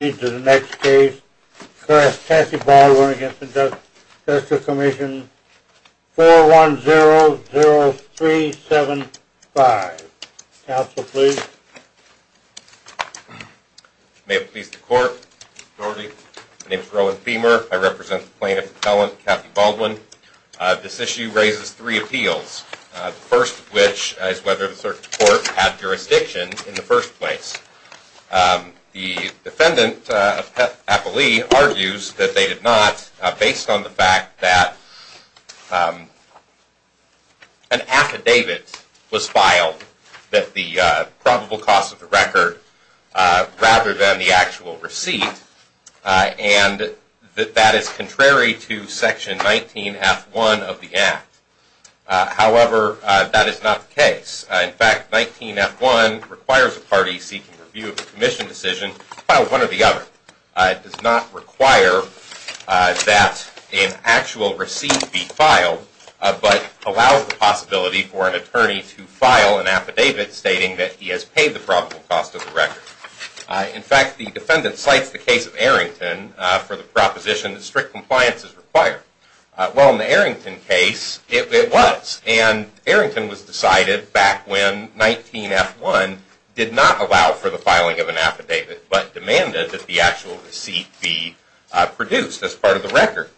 Into the next case, Cassie Baldwin against the Judicial Commission 4100375. Counsel, please. May it please the court. My name is Rowan Feamer. I represent the plaintiff and felon, Cassie Baldwin. This issue raises three appeals, the first of which is whether the court had jurisdiction in the first place. The defendant, Appali, argues that they did not based on the fact that an affidavit was filed that the probable cause of the record rather than the actual receipt and that that is contrary to section 19 f1 of the act. However, that is not the case. In fact, 19 f1 requires a party seeking review of the commission decision to file one or the other. It does not require that an actual receipt be filed, but allows the possibility for an attorney to file an affidavit stating that he has paid the probable cost of the record. In fact, the defendant cites the case of Arrington for the proposition that strict compliance is required. Well, in the case of Arrington, it was decided back when 19 f1 did not allow for the filing of an affidavit but demanded that the actual receipt be produced as part of the record.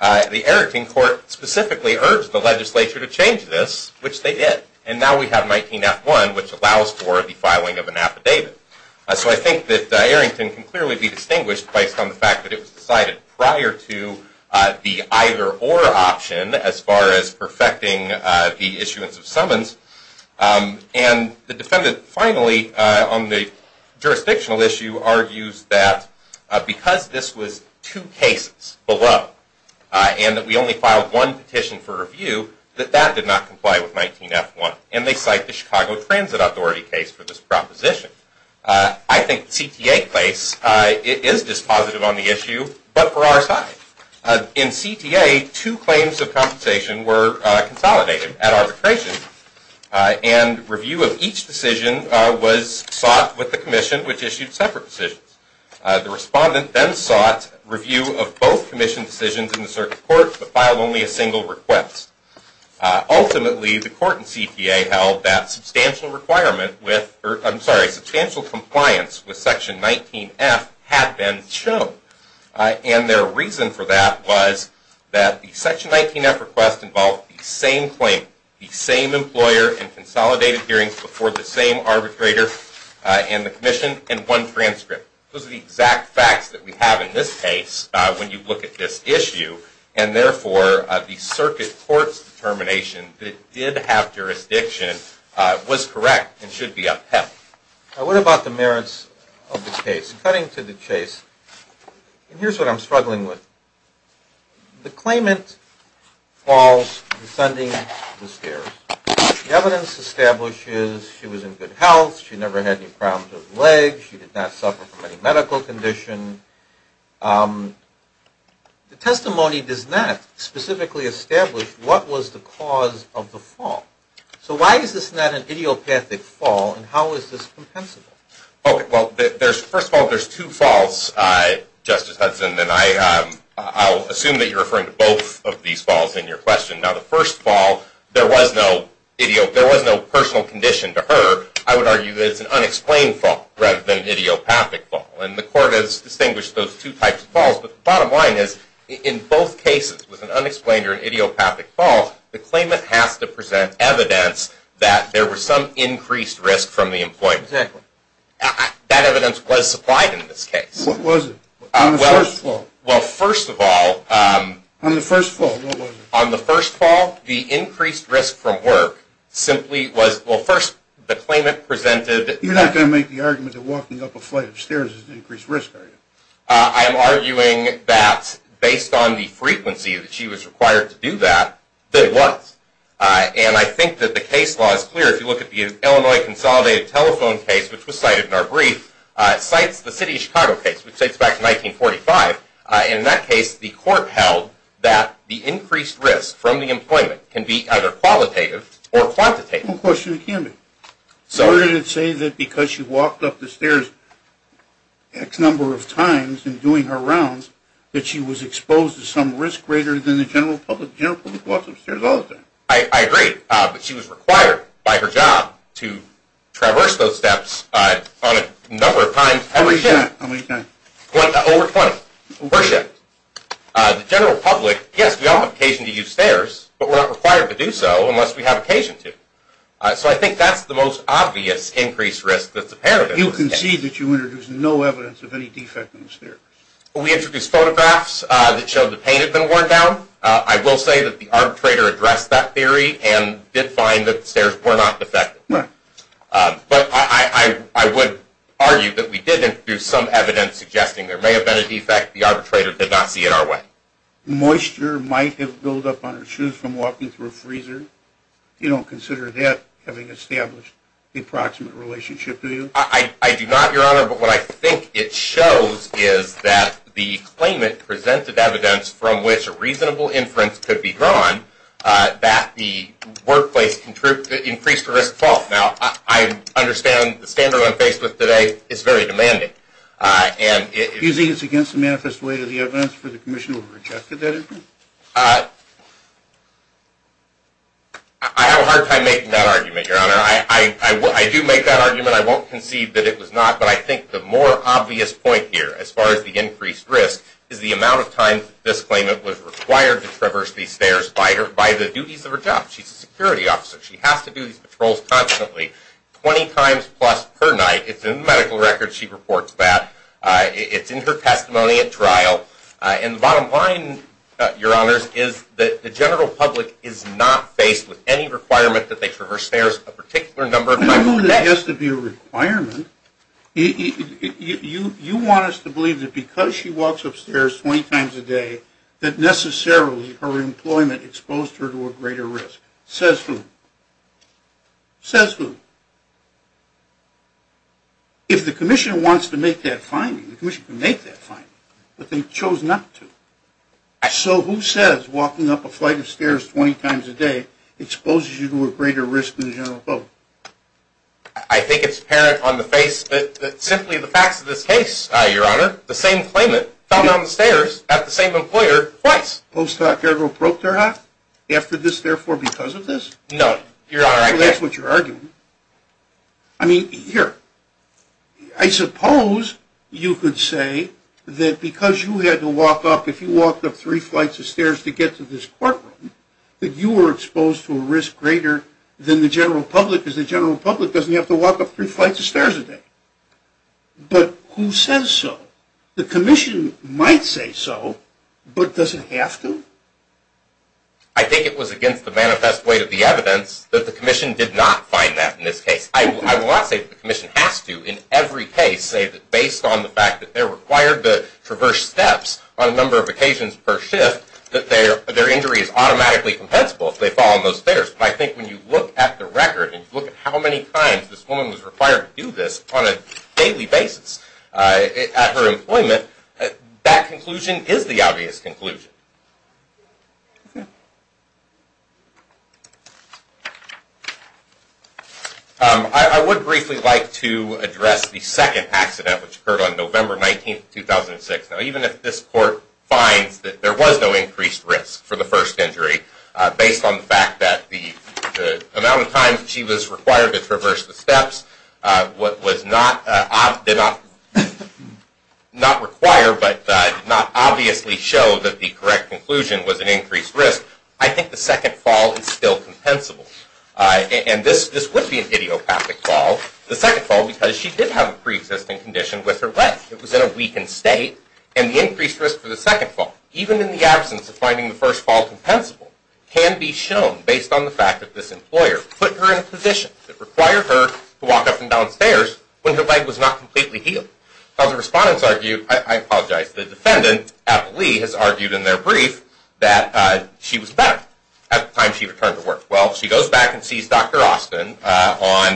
The Arrington court specifically urged the legislature to change this, which they did, and now we have 19 f1 which allows for the filing of an affidavit. So I think that Arrington can clearly be distinguished based on the fact that it was decided prior to the either or option as far as perfecting the issuance of summons. And the defendant finally on the jurisdictional issue argues that because this was two cases below and that we only filed one petition for review, that that did not comply with 19 f1. And they cite the Chicago Transit Authority case for this proposition. I think the CTA case is positive on the issue, but for our side. In CTA, two claims of compensation were consolidated at arbitration and review of each decision was sought with the commission, which issued separate decisions. The respondent then sought review of both commission decisions in the circuit court, but filed only a single request. Ultimately, the court and CTA held that substantial requirement with, I'm sorry, substantial compliance with section 19 f had been shown. And their reason for that was that the section 19 f request involved the same claim, the same employer, and consolidated hearings before the same arbitrator and the commission in one transcript. Those are the exact facts that we have in this case when you look at this issue. And therefore, the circuit court's determination that it did have jurisdiction was correct and should be upheld. What about the merits of the case? Cutting to the chase, and here's what I'm struggling with. The claimant falls descending the stairs. The evidence establishes she was in good health, she never had any problems with her legs, she did not suffer from any medical condition. The testimony does not specifically establish what was the cause of the fall. So why is this not an idiopathic fall, and how is this compensable? Okay, well, first of all, there's two falls, Justice Hudson, and I'll assume that you're referring to both of these falls in your question. Now, the first fall, there was no personal condition to her. I would argue that it was an unexplained fall rather than an idiopathic fall, and the court has distinguished those two types of falls, but the bottom line is, in both cases, with an unexplained or an idiopathic fall, the claimant has to present evidence that there was some increased risk from the employment. That evidence was supplied in this case. What was it? On the first fall? Well, first of all, on the first fall, the increased risk from work simply was, well, the claimant presented... You're not going to make the argument that walking up a flight of stairs is an increased risk, are you? I am arguing that based on the frequency that she was required to do that, there was, and I think that the case law is clear. If you look at the Illinois Consolidated Telephone case, which was cited in our brief, it cites the City of Chicago case, which dates back to 1945. In that case, the court held that the increased risk from the employment can be either So did it say that because she walked up the stairs X number of times in doing her rounds, that she was exposed to some risk greater than the general public? The general public walks up stairs all the time. I agree, but she was required by her job to traverse those steps on a number of times. How many times? Over 20. The general public, yes, we all have occasion to use stairs, but we're not required to do so unless we have occasion to. So I think that's the most obvious increased risk that's apparent. You concede that you introduced no evidence of any defect in the stairs. We introduced photographs that showed the paint had been worn down. I will say that the arbitrator addressed that theory and did find that the stairs were not defective, but I would argue that we did introduce some evidence suggesting there may have been a defect. The freezer. You don't consider that having established the approximate relationship, do you? I do not, your honor, but what I think it shows is that the claimant presented evidence from which a reasonable inference could be drawn that the workplace increased risk of fault. Now, I understand the standard I'm faced with today is very demanding. Using this against the manifest way of the evidence for the commission who rejected that argument. I have a hard time making that argument, your honor. I do make that argument. I won't concede that it was not, but I think the more obvious point here as far as the increased risk is the amount of time this claimant was required to traverse these stairs by the duties of her job. She's a security officer. She has to do these patrols constantly, 20 times plus per night. It's in the medical record. She reports that. It's in her testimony at trial. And the general public is not faced with any requirement that they traverse stairs a particular number of times a day. It doesn't have to be a requirement. You want us to believe that because she walks upstairs 20 times a day that necessarily her employment exposed her to a greater risk. Says who? Says who? If the commission wants to make that finding, the commission can make that finding. I think it's apparent on the face that simply the facts of this case, your honor, the same claimant fell down the stairs at the same employer twice. Post doc ever broke their heart after this? Therefore, because of this? No, your honor, that's what you're arguing. I mean, here, I suppose you could say that because you had to walk up, if you walked up three flights of stairs to get to this courtroom, that you were exposed to a risk greater than the general public because the general public doesn't have to walk up three flights of stairs a day. But who says so? The commission might say so, but does it have to? I think it was against the manifest weight of the evidence that the commission did not find that in this case. I will not say the commission has to in every case say that based on the fact that they're required to traverse steps on a number of occasions per shift that their injury is automatically compensable if they fall on those stairs. But I think when you look at the record and look at how many times this woman was required to do this on a daily basis at her employment, that conclusion is the obvious conclusion. I would briefly like to address the second accident which occurred on November 19, 2006. Now, even if this court finds that there was no increased risk for the first injury based on the fact that the amount of times she was required to traverse the steps did not require but did not obviously show that the correct conclusion was an increased risk, I think the second fall is still compensable. And this would be an idiopathic fall, the second fall because she did have a pre-existing condition with her leg. It was in a weakened state and the increased risk for the second fall, even in the absence of finding the first fall compensable, can be shown based on the fact that this employer put her in a position that required her to walk up and down stairs when her leg was not completely healed. Now, the respondents argued, I apologize, the defendant, Applee, has argued in their brief that she was better at the time she returned to work. Well, she goes back and sees Dr. Austin on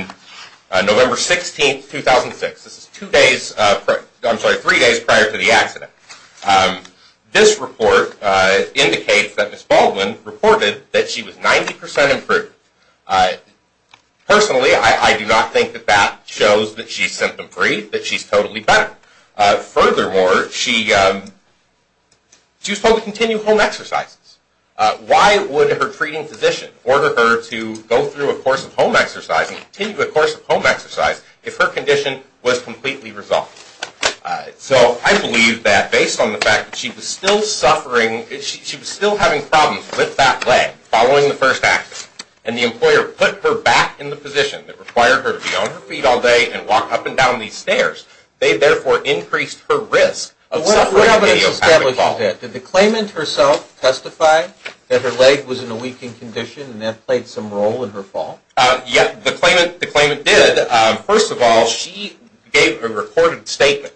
November 16, 2006. This is two days, I'm sorry, three days prior to the accident. This report indicates that Ms. Baldwin reported that she was 90 percent improved. Personally, I do not think that that shows that she's symptom free, that she's totally better. Furthermore, she was told to continue home exercises. Why would her treating physician order her to go through a course of home exercise and continue a course of home exercise if her condition was completely resolved? So, I believe that based on the fact that she was still suffering, she was still having problems with that leg following the first accident and the employer put her back in the position that required her to be on her feet all day and walk up and down these stairs, they therefore increased her risk of suffering an idiopathic fall. What evidence establishes that? Did the claimant herself testify that her leg was in a weakened condition and that played some role in her fall? Yeah, the claimant did. First of all, she gave a recorded statement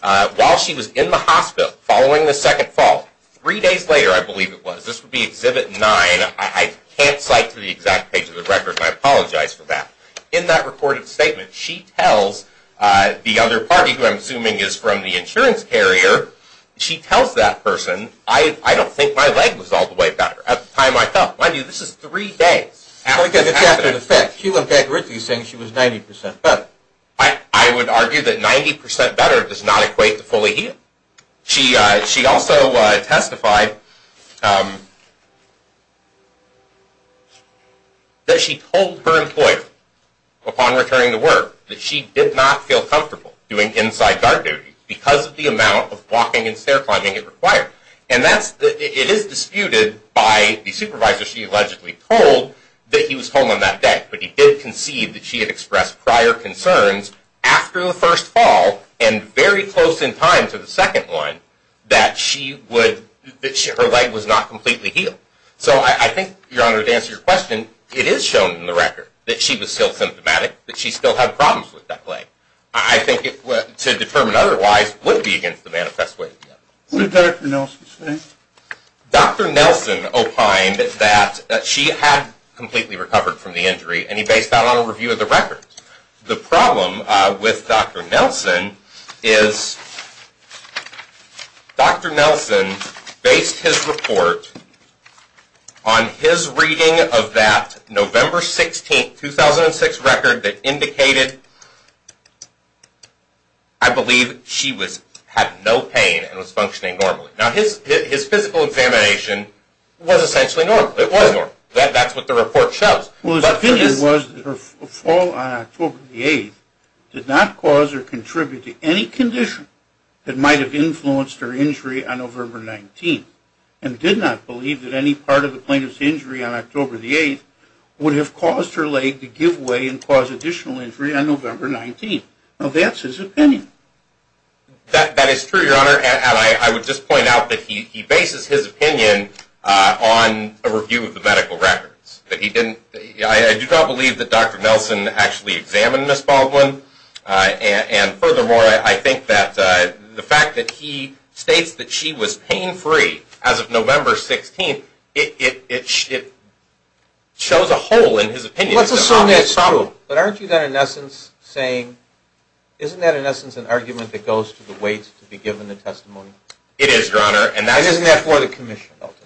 while she was in the hospital following the second fall. Three days later, I believe it was. This would be Exhibit 9. I can't cite to the exact page of the record. I apologize for that. In that recorded statement, she tells the other party, who I'm assuming is from the insurance carrier, she tells that person, I don't think my leg was all the way better at the time I fell. Mind you, this is three days after the accident. So, it's after the fact. She went back and wrote that she was 90% better. I would argue that 90% better does not equate to fully healed. She also testified that she told her employer upon returning to work that she did not feel doing inside guard duty because of the amount of walking and stair climbing it required. And it is disputed by the supervisor she allegedly told that he was home on that day, but he did concede that she had expressed prior concerns after the first fall and very close in time to the second one that her leg was not completely healed. So, I think, Your Honor, to answer your question, it is shown in the record that she was still symptomatic, that she still had problems with that leg. I think, to determine otherwise, would be against the manifest way. What did Dr. Nelson say? Dr. Nelson opined that she had completely recovered from the injury, and he based that on a review of the record. The problem with Dr. Nelson is that Dr. Nelson based his report on his reading of that November 16, 2006, record that indicated I believe she had no pain and was functioning normally. Now, his physical examination was essentially normal. It was normal. That is what the report shows. His opinion was that her fall on October 8 did not cause or contribute to any condition that might have influenced her injury on November 19, and did not believe that any part of the plaintiff's injury on October 8 would have caused her leg to give way and cause additional injury on November 19. Now, that is his opinion. That is true, Your Honor, and I would just like to see his opinion on a review of the medical records. I do not believe that Dr. Nelson actually examined Ms. Baldwin, and furthermore, I think that the fact that he states that she was pain-free as of November 16, it shows a hole in his opinion. Well, that is true, but aren't you then, in essence, saying, isn't that, in essence, an argument that goes to the weight to be given the testimony? It is, Your Honor. Isn't that for the commission, ultimately?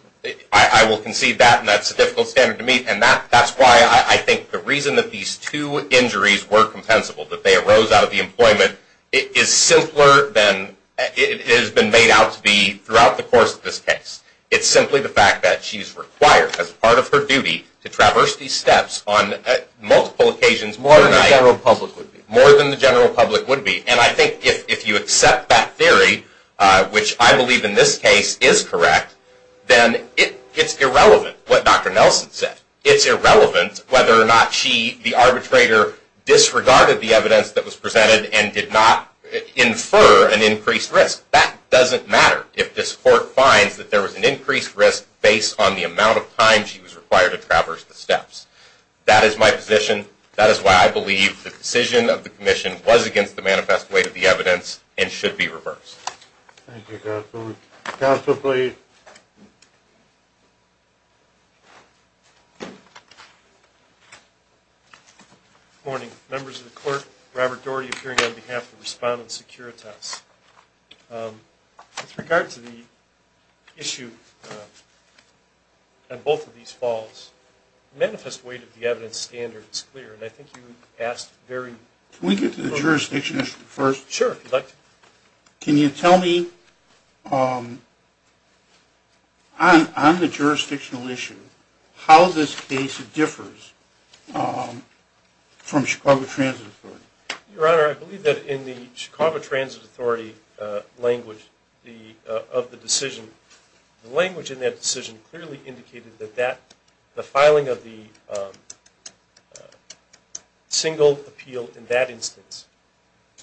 I will concede that, and that is a difficult standard to meet, and that is why I think the reason that these two injuries were compensable, that they arose out of the employment, is simpler than it has been made out to be throughout the course of this case. It is simply the fact that she is required, as part of her duty, to traverse these steps on multiple occasions, more than the general public would be. And I think if you accept that theory, which I believe in this case is correct, then it's irrelevant what Dr. Nelson said. It's irrelevant whether or not she, the arbitrator, disregarded the evidence that was presented and did not infer an increased risk. That doesn't matter if this court finds that there was an increased risk based on the amount of time she was required to traverse the steps. That is my position. That is why I believe the decision of the commission was manifest weight of the evidence and should be reversed. Thank you, counsel. Counsel, please. Morning. Members of the court, Robert Doherty appearing on behalf of Respondent Securitas. With regard to the issue on both of these falls, the manifest weight of the evidence is clear. Can we get to the jurisdiction issue first? Sure. Can you tell me on the jurisdictional issue, how this case differs from Chicago Transit Authority? Your Honor, I believe that in the Chicago Transit Authority language of the decision, the language in that decision clearly indicated that the filing of the single appeal in that instance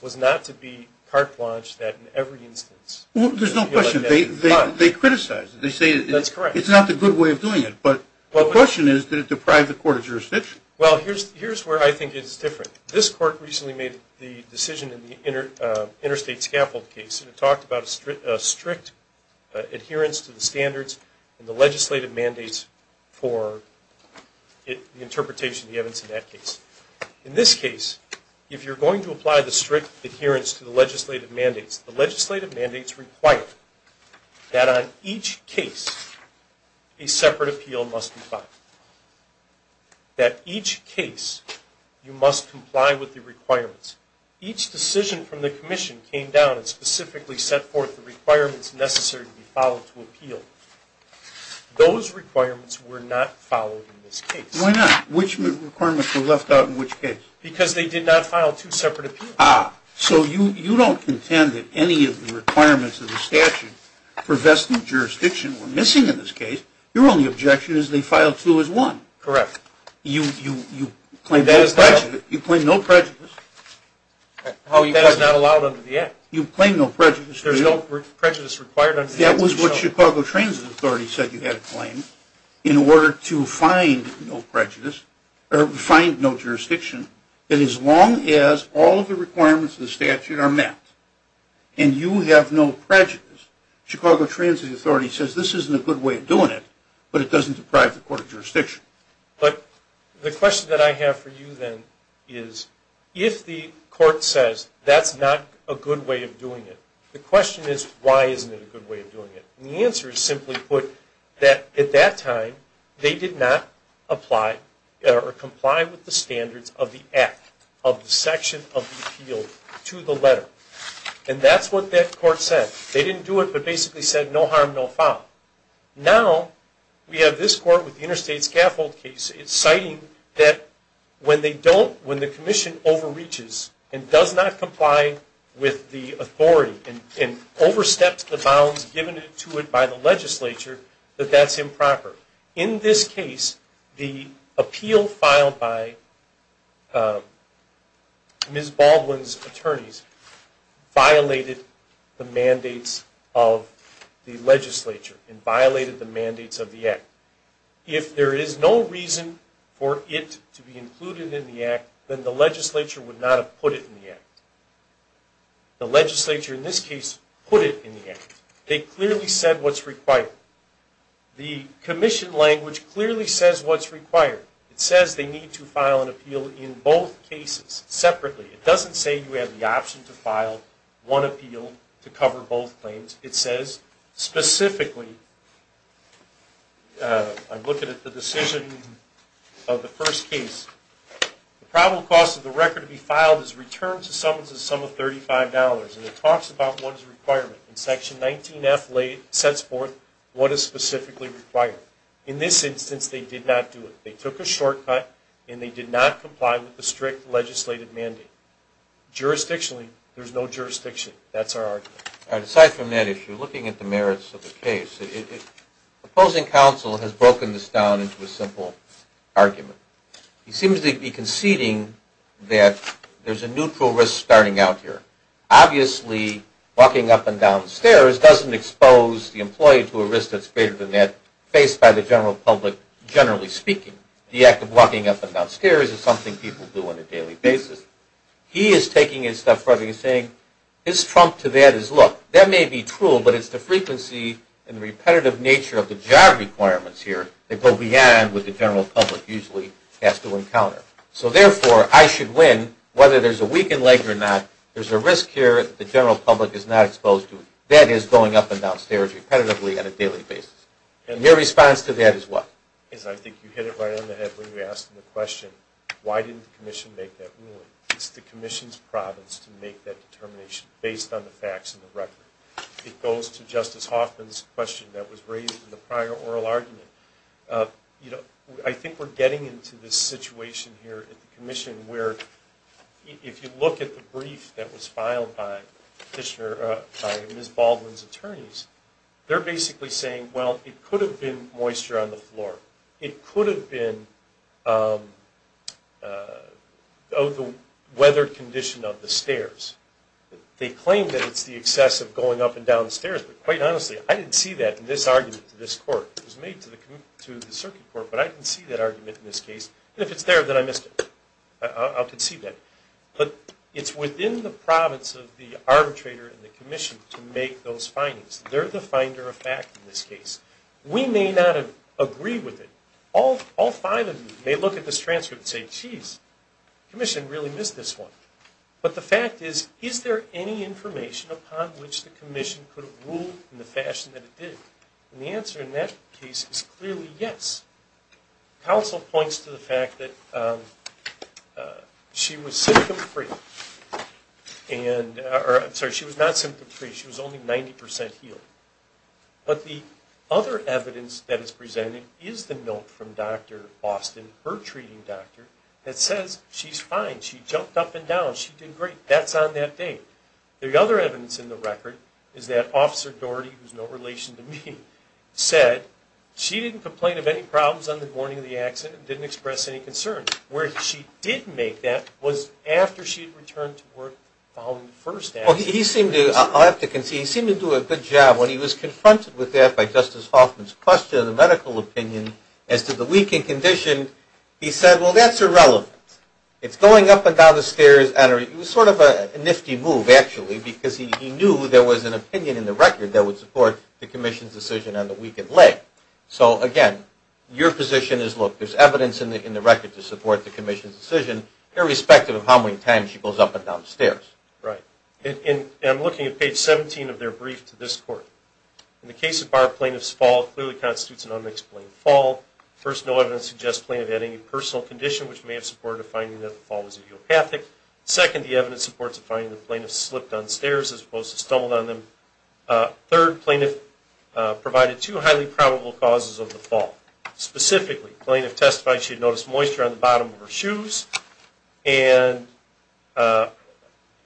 was not to be carte blanche, that in every instance... There's no question. They criticize it. They say it's not the good way of doing it, but the question is, did it deprive the court of jurisdiction? Well, here's where I think it's different. This court recently made the decision in the standards and the legislative mandates for the interpretation of the evidence in that case. In this case, if you're going to apply the strict adherence to the legislative mandates, the legislative mandates require that on each case, a separate appeal must be filed. That each case, you must comply with the requirements. Each decision from the commission came down and specifically set forth the requirements necessary to be followed to appeal. Those requirements were not followed in this case. Why not? Which requirements were left out in which case? Because they did not file two separate appeals. Ah, so you don't contend that any of the requirements of the statute for vested jurisdiction were missing in this case. Your only objection is they filed two as one. Correct. You claim no prejudice. That is not allowed under the Act. You claim no prejudice. There's no prejudice required under the Act. That was what Chicago Transit Authority said you had to claim in order to find no jurisdiction, that as long as all of the requirements of the statute are met and you have no prejudice, Chicago Transit Authority says this isn't a good way of doing it, but it doesn't deprive the court of jurisdiction. But the question that I have for you then is if the court says that's not a good way of doing it, the question is why isn't it a good way of doing it? The answer is simply put that at that time they did not apply or comply with the standards of the Act, of the section of the appeal to the letter. And that's what that court said. They didn't do it, but basically said no harm, no foul. Now we have this court with the interstate scaffold case. It's citing that when they don't, when the commission overreaches and does not comply with the authority and oversteps the bounds given to it by the legislature, that that's improper. In this case, the appeal filed by Ms. Baldwin's attorneys violated the mandates of the legislature. It violated the mandates of the Act. If there is no reason for it to be included in the Act, then the legislature would not have put it in the Act. The legislature in this case put it in the Act. They clearly said what's required. The commission language clearly says what's required. It says they need to file an appeal in both cases separately. It doesn't say you have the option to file one appeal to cover both claims. It says specifically, I'm looking at the decision of the first case, the probable cost of the record to be filed is returned to someone to the sum of $35. It talks about what is the requirement. Section 19F sets forth what is specifically required. In this instance, they did not do it. They took a shortcut and they did not comply with the strict legislative mandate. Jurisdictionally, there's no jurisdiction. That's our argument. Aside from that issue, looking at the merits of the case, opposing counsel has broken this down into a simple argument. He seems to be conceding that there's a neutral risk starting out here. Obviously, walking up and down stairs doesn't expose the employee to a risk that's greater than that faced by the general public, generally speaking. The act of walking up and down stairs is something people do on a daily basis. He is taking it a step further and saying, his trump to that is, look, that may be true, but it's the frequency and the repetitive nature of the job requirements here that go beyond what the general public usually has to encounter. So therefore, I should win whether there's a weakened leg or not. There's a risk here that the general public is not exposed to. That is going up and down stairs repetitively on a daily basis. And your response to that is what? I think you hit it right on the head when you asked the question, why didn't the commission make that ruling? It's the commission's province to make that determination based on the facts of the record. It goes to Justice Hoffman's question that was raised in the prior oral argument. I think we're getting into this situation here at the commission where, if you look at the brief that was filed by Ms. Baldwin's attorneys, they're basically saying, well, it could have been moisture on the floor. It could have been the weather condition of the stairs. They claim that it's the excess of going up and down the stairs, but quite honestly, I didn't see that in this argument to this court. It was made to the circuit court, but I didn't see that argument in this case. And if it's there, then I missed it. I'll concede that. But it's within the province of the arbitrator and the commission to make those findings. They're the finder of fact in this case. We may not agree with it. All five of you may look at this transcript and say, jeez, the commission really missed this one. But the fact is, is there any information upon which the commission could have ruled in the fashion that it did? And the answer in that case is clearly yes. Counsel points to the fact that she was symptom free. Sorry, she was not symptom free. She was only 90% healed. But the other evidence that is presented is the note from Dr. Austin, her treating doctor, that says she's fine. She jumped up and down. She did great. That's on that date. The other evidence in the record is that Officer Doherty, who's no relation to me, said she didn't complain of any problems on the morning of the accident, didn't express any concern. Where she did make that was after she had returned to work following the first accident. I'll have to concede, he seemed to do a good job when he was confronted with that by Justice Hoffman's question of the medical opinion as to the weakened condition. He said, well, that's irrelevant. It's going up and down the stairs. And it was sort of a nifty move, actually, because he knew there was an opinion in the record that would support the commission's decision on the weakened leg. So again, your position is, look, there's evidence in the record to support the commission's decision, irrespective of how many times she goes up and down the stairs. Right. And I'm looking at page 17 of their brief to this court. In the case of Barr, plaintiff's fall clearly constitutes an unexplained fall. First, no evidence suggests plaintiff had any personal condition, which may have supported a finding that the fall was idiopathic. Second, the evidence supports a finding that the plaintiff slipped on stairs as opposed to stumbled on them. Third, plaintiff provided two highly probable causes of the fall. Specifically, plaintiff testified she had noticed moisture on the bottom of her shoes. And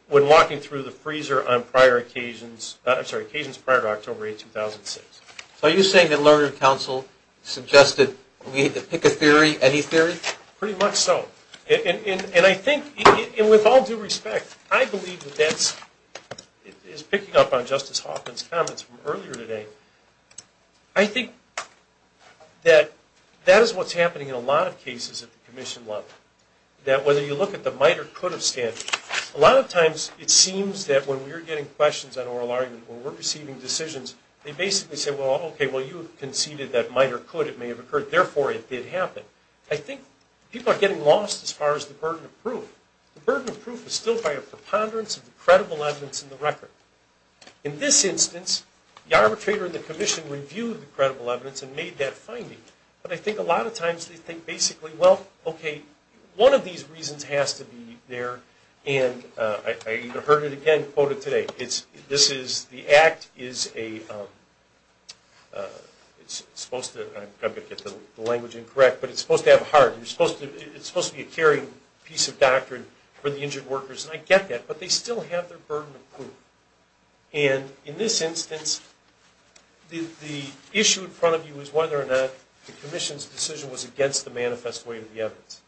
when walking through the freezer on prior occasions, I'm sorry, occasions prior to October 8, 2006. So are you saying that Learner Council suggested we need to pick a theory, any theory? Pretty much so. And I think, with all due respect, I believe that that is picking up on Justice Hoffman's comments from earlier today. I think that that is what's happening in a lot of cases at the commission level. That whether you look at the might or could of standards, a lot of times it seems that when we're getting questions on oral argument, when we're receiving decisions, they basically say, well, okay, well, you conceded that might or could, it may have occurred, therefore it did happen. I think people are getting lost as far as the burden of proof. The burden of proof is still by a preponderance of the credible evidence in the record. In this instance, the arbitrator in the commission reviewed the credible evidence and made that finding. But I think a lot of times they think basically, well, okay, one of these reasons has to be there. And I heard it again quoted today. The act is a, it's supposed to, I'm going to get the language incorrect, but it's supposed to have a heart. You're supposed to, it's supposed to be a caring piece of doctrine for the injured workers. But they still have their burden of proof. And in this instance, the issue in front of you is whether or not the commission's decision was against the manifest way of the evidence.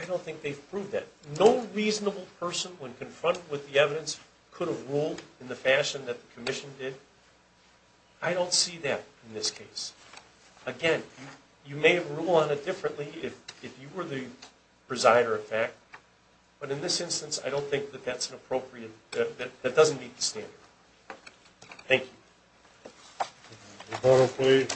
I don't think they've proved that. No reasonable person when confronted with the evidence could have ruled in the fashion that the commission did. I don't see that in this case. Again, you may have ruled on it differently if you were the presider, in fact. But in this instance, I don't think that that's an appropriate, that doesn't meet the standard. Thank you.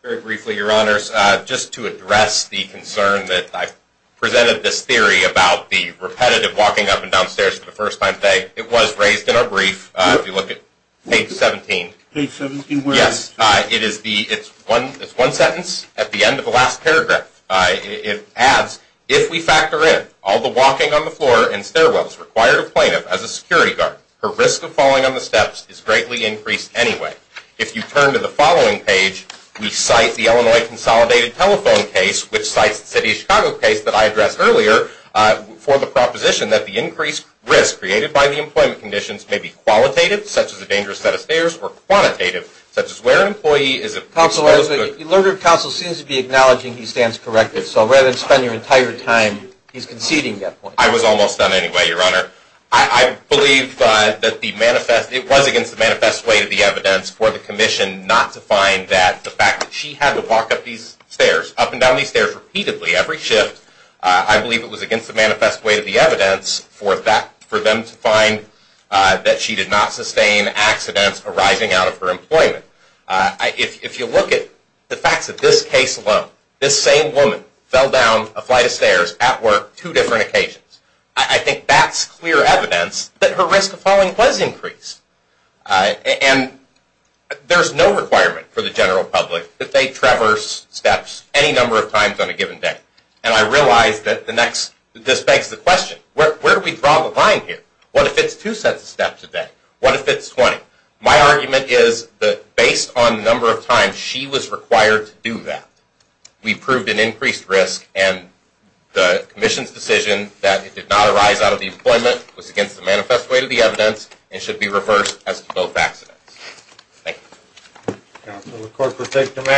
Very briefly, your honors, just to address the concern that I presented this theory about the repetitive walking up and down stairs for the first time today, it was raised in our brief. If you look at page 17. Page 17 where? Yes, it is the, it's one, it's one sentence at the end of the last paragraph. It adds, if we factor in all the walking on the floor and stairwells required a plaintiff as a security guard, her risk of falling on the steps is greatly increased anyway. If you turn to the following page, we cite the Illinois Consolidated Telephone case, which cites the city of Chicago case that I addressed earlier, for the proposition that the increased risk created by the employment conditions may be qualitative, such as a dangerous set of stairs, or quantitative, such as where an employee is. Counselor, the learner of counsel seems to be acknowledging he stands corrected. So rather than spend your entire time, he's conceding that point. I was almost done anyway, your honor. I believe that the manifest, it was against the manifest way to the evidence for the commission not to find that the fact that she had to walk up these stairs, up and down these stairs repeatedly every shift, I believe it was against the manifest way to the evidence for that, for them to find that she did not sustain accidents arising out of her employment. If you look at the facts of this case alone, this same woman fell down a flight of stairs at work two different occasions. I think that's clear evidence that her risk of falling was increased. And there's no requirement for the general public that they traverse steps any number of times on a given day. And I realize that the next, this begs the question, where do we draw the line here? What if it's two sets of steps a day? What if it's 20? My argument is that based on the number of times she was required to do that, we proved an increased risk and the commission's decision that it did not arise out of the employment was against the manifest way to the evidence and should be reversed as to both accidents. Thank you.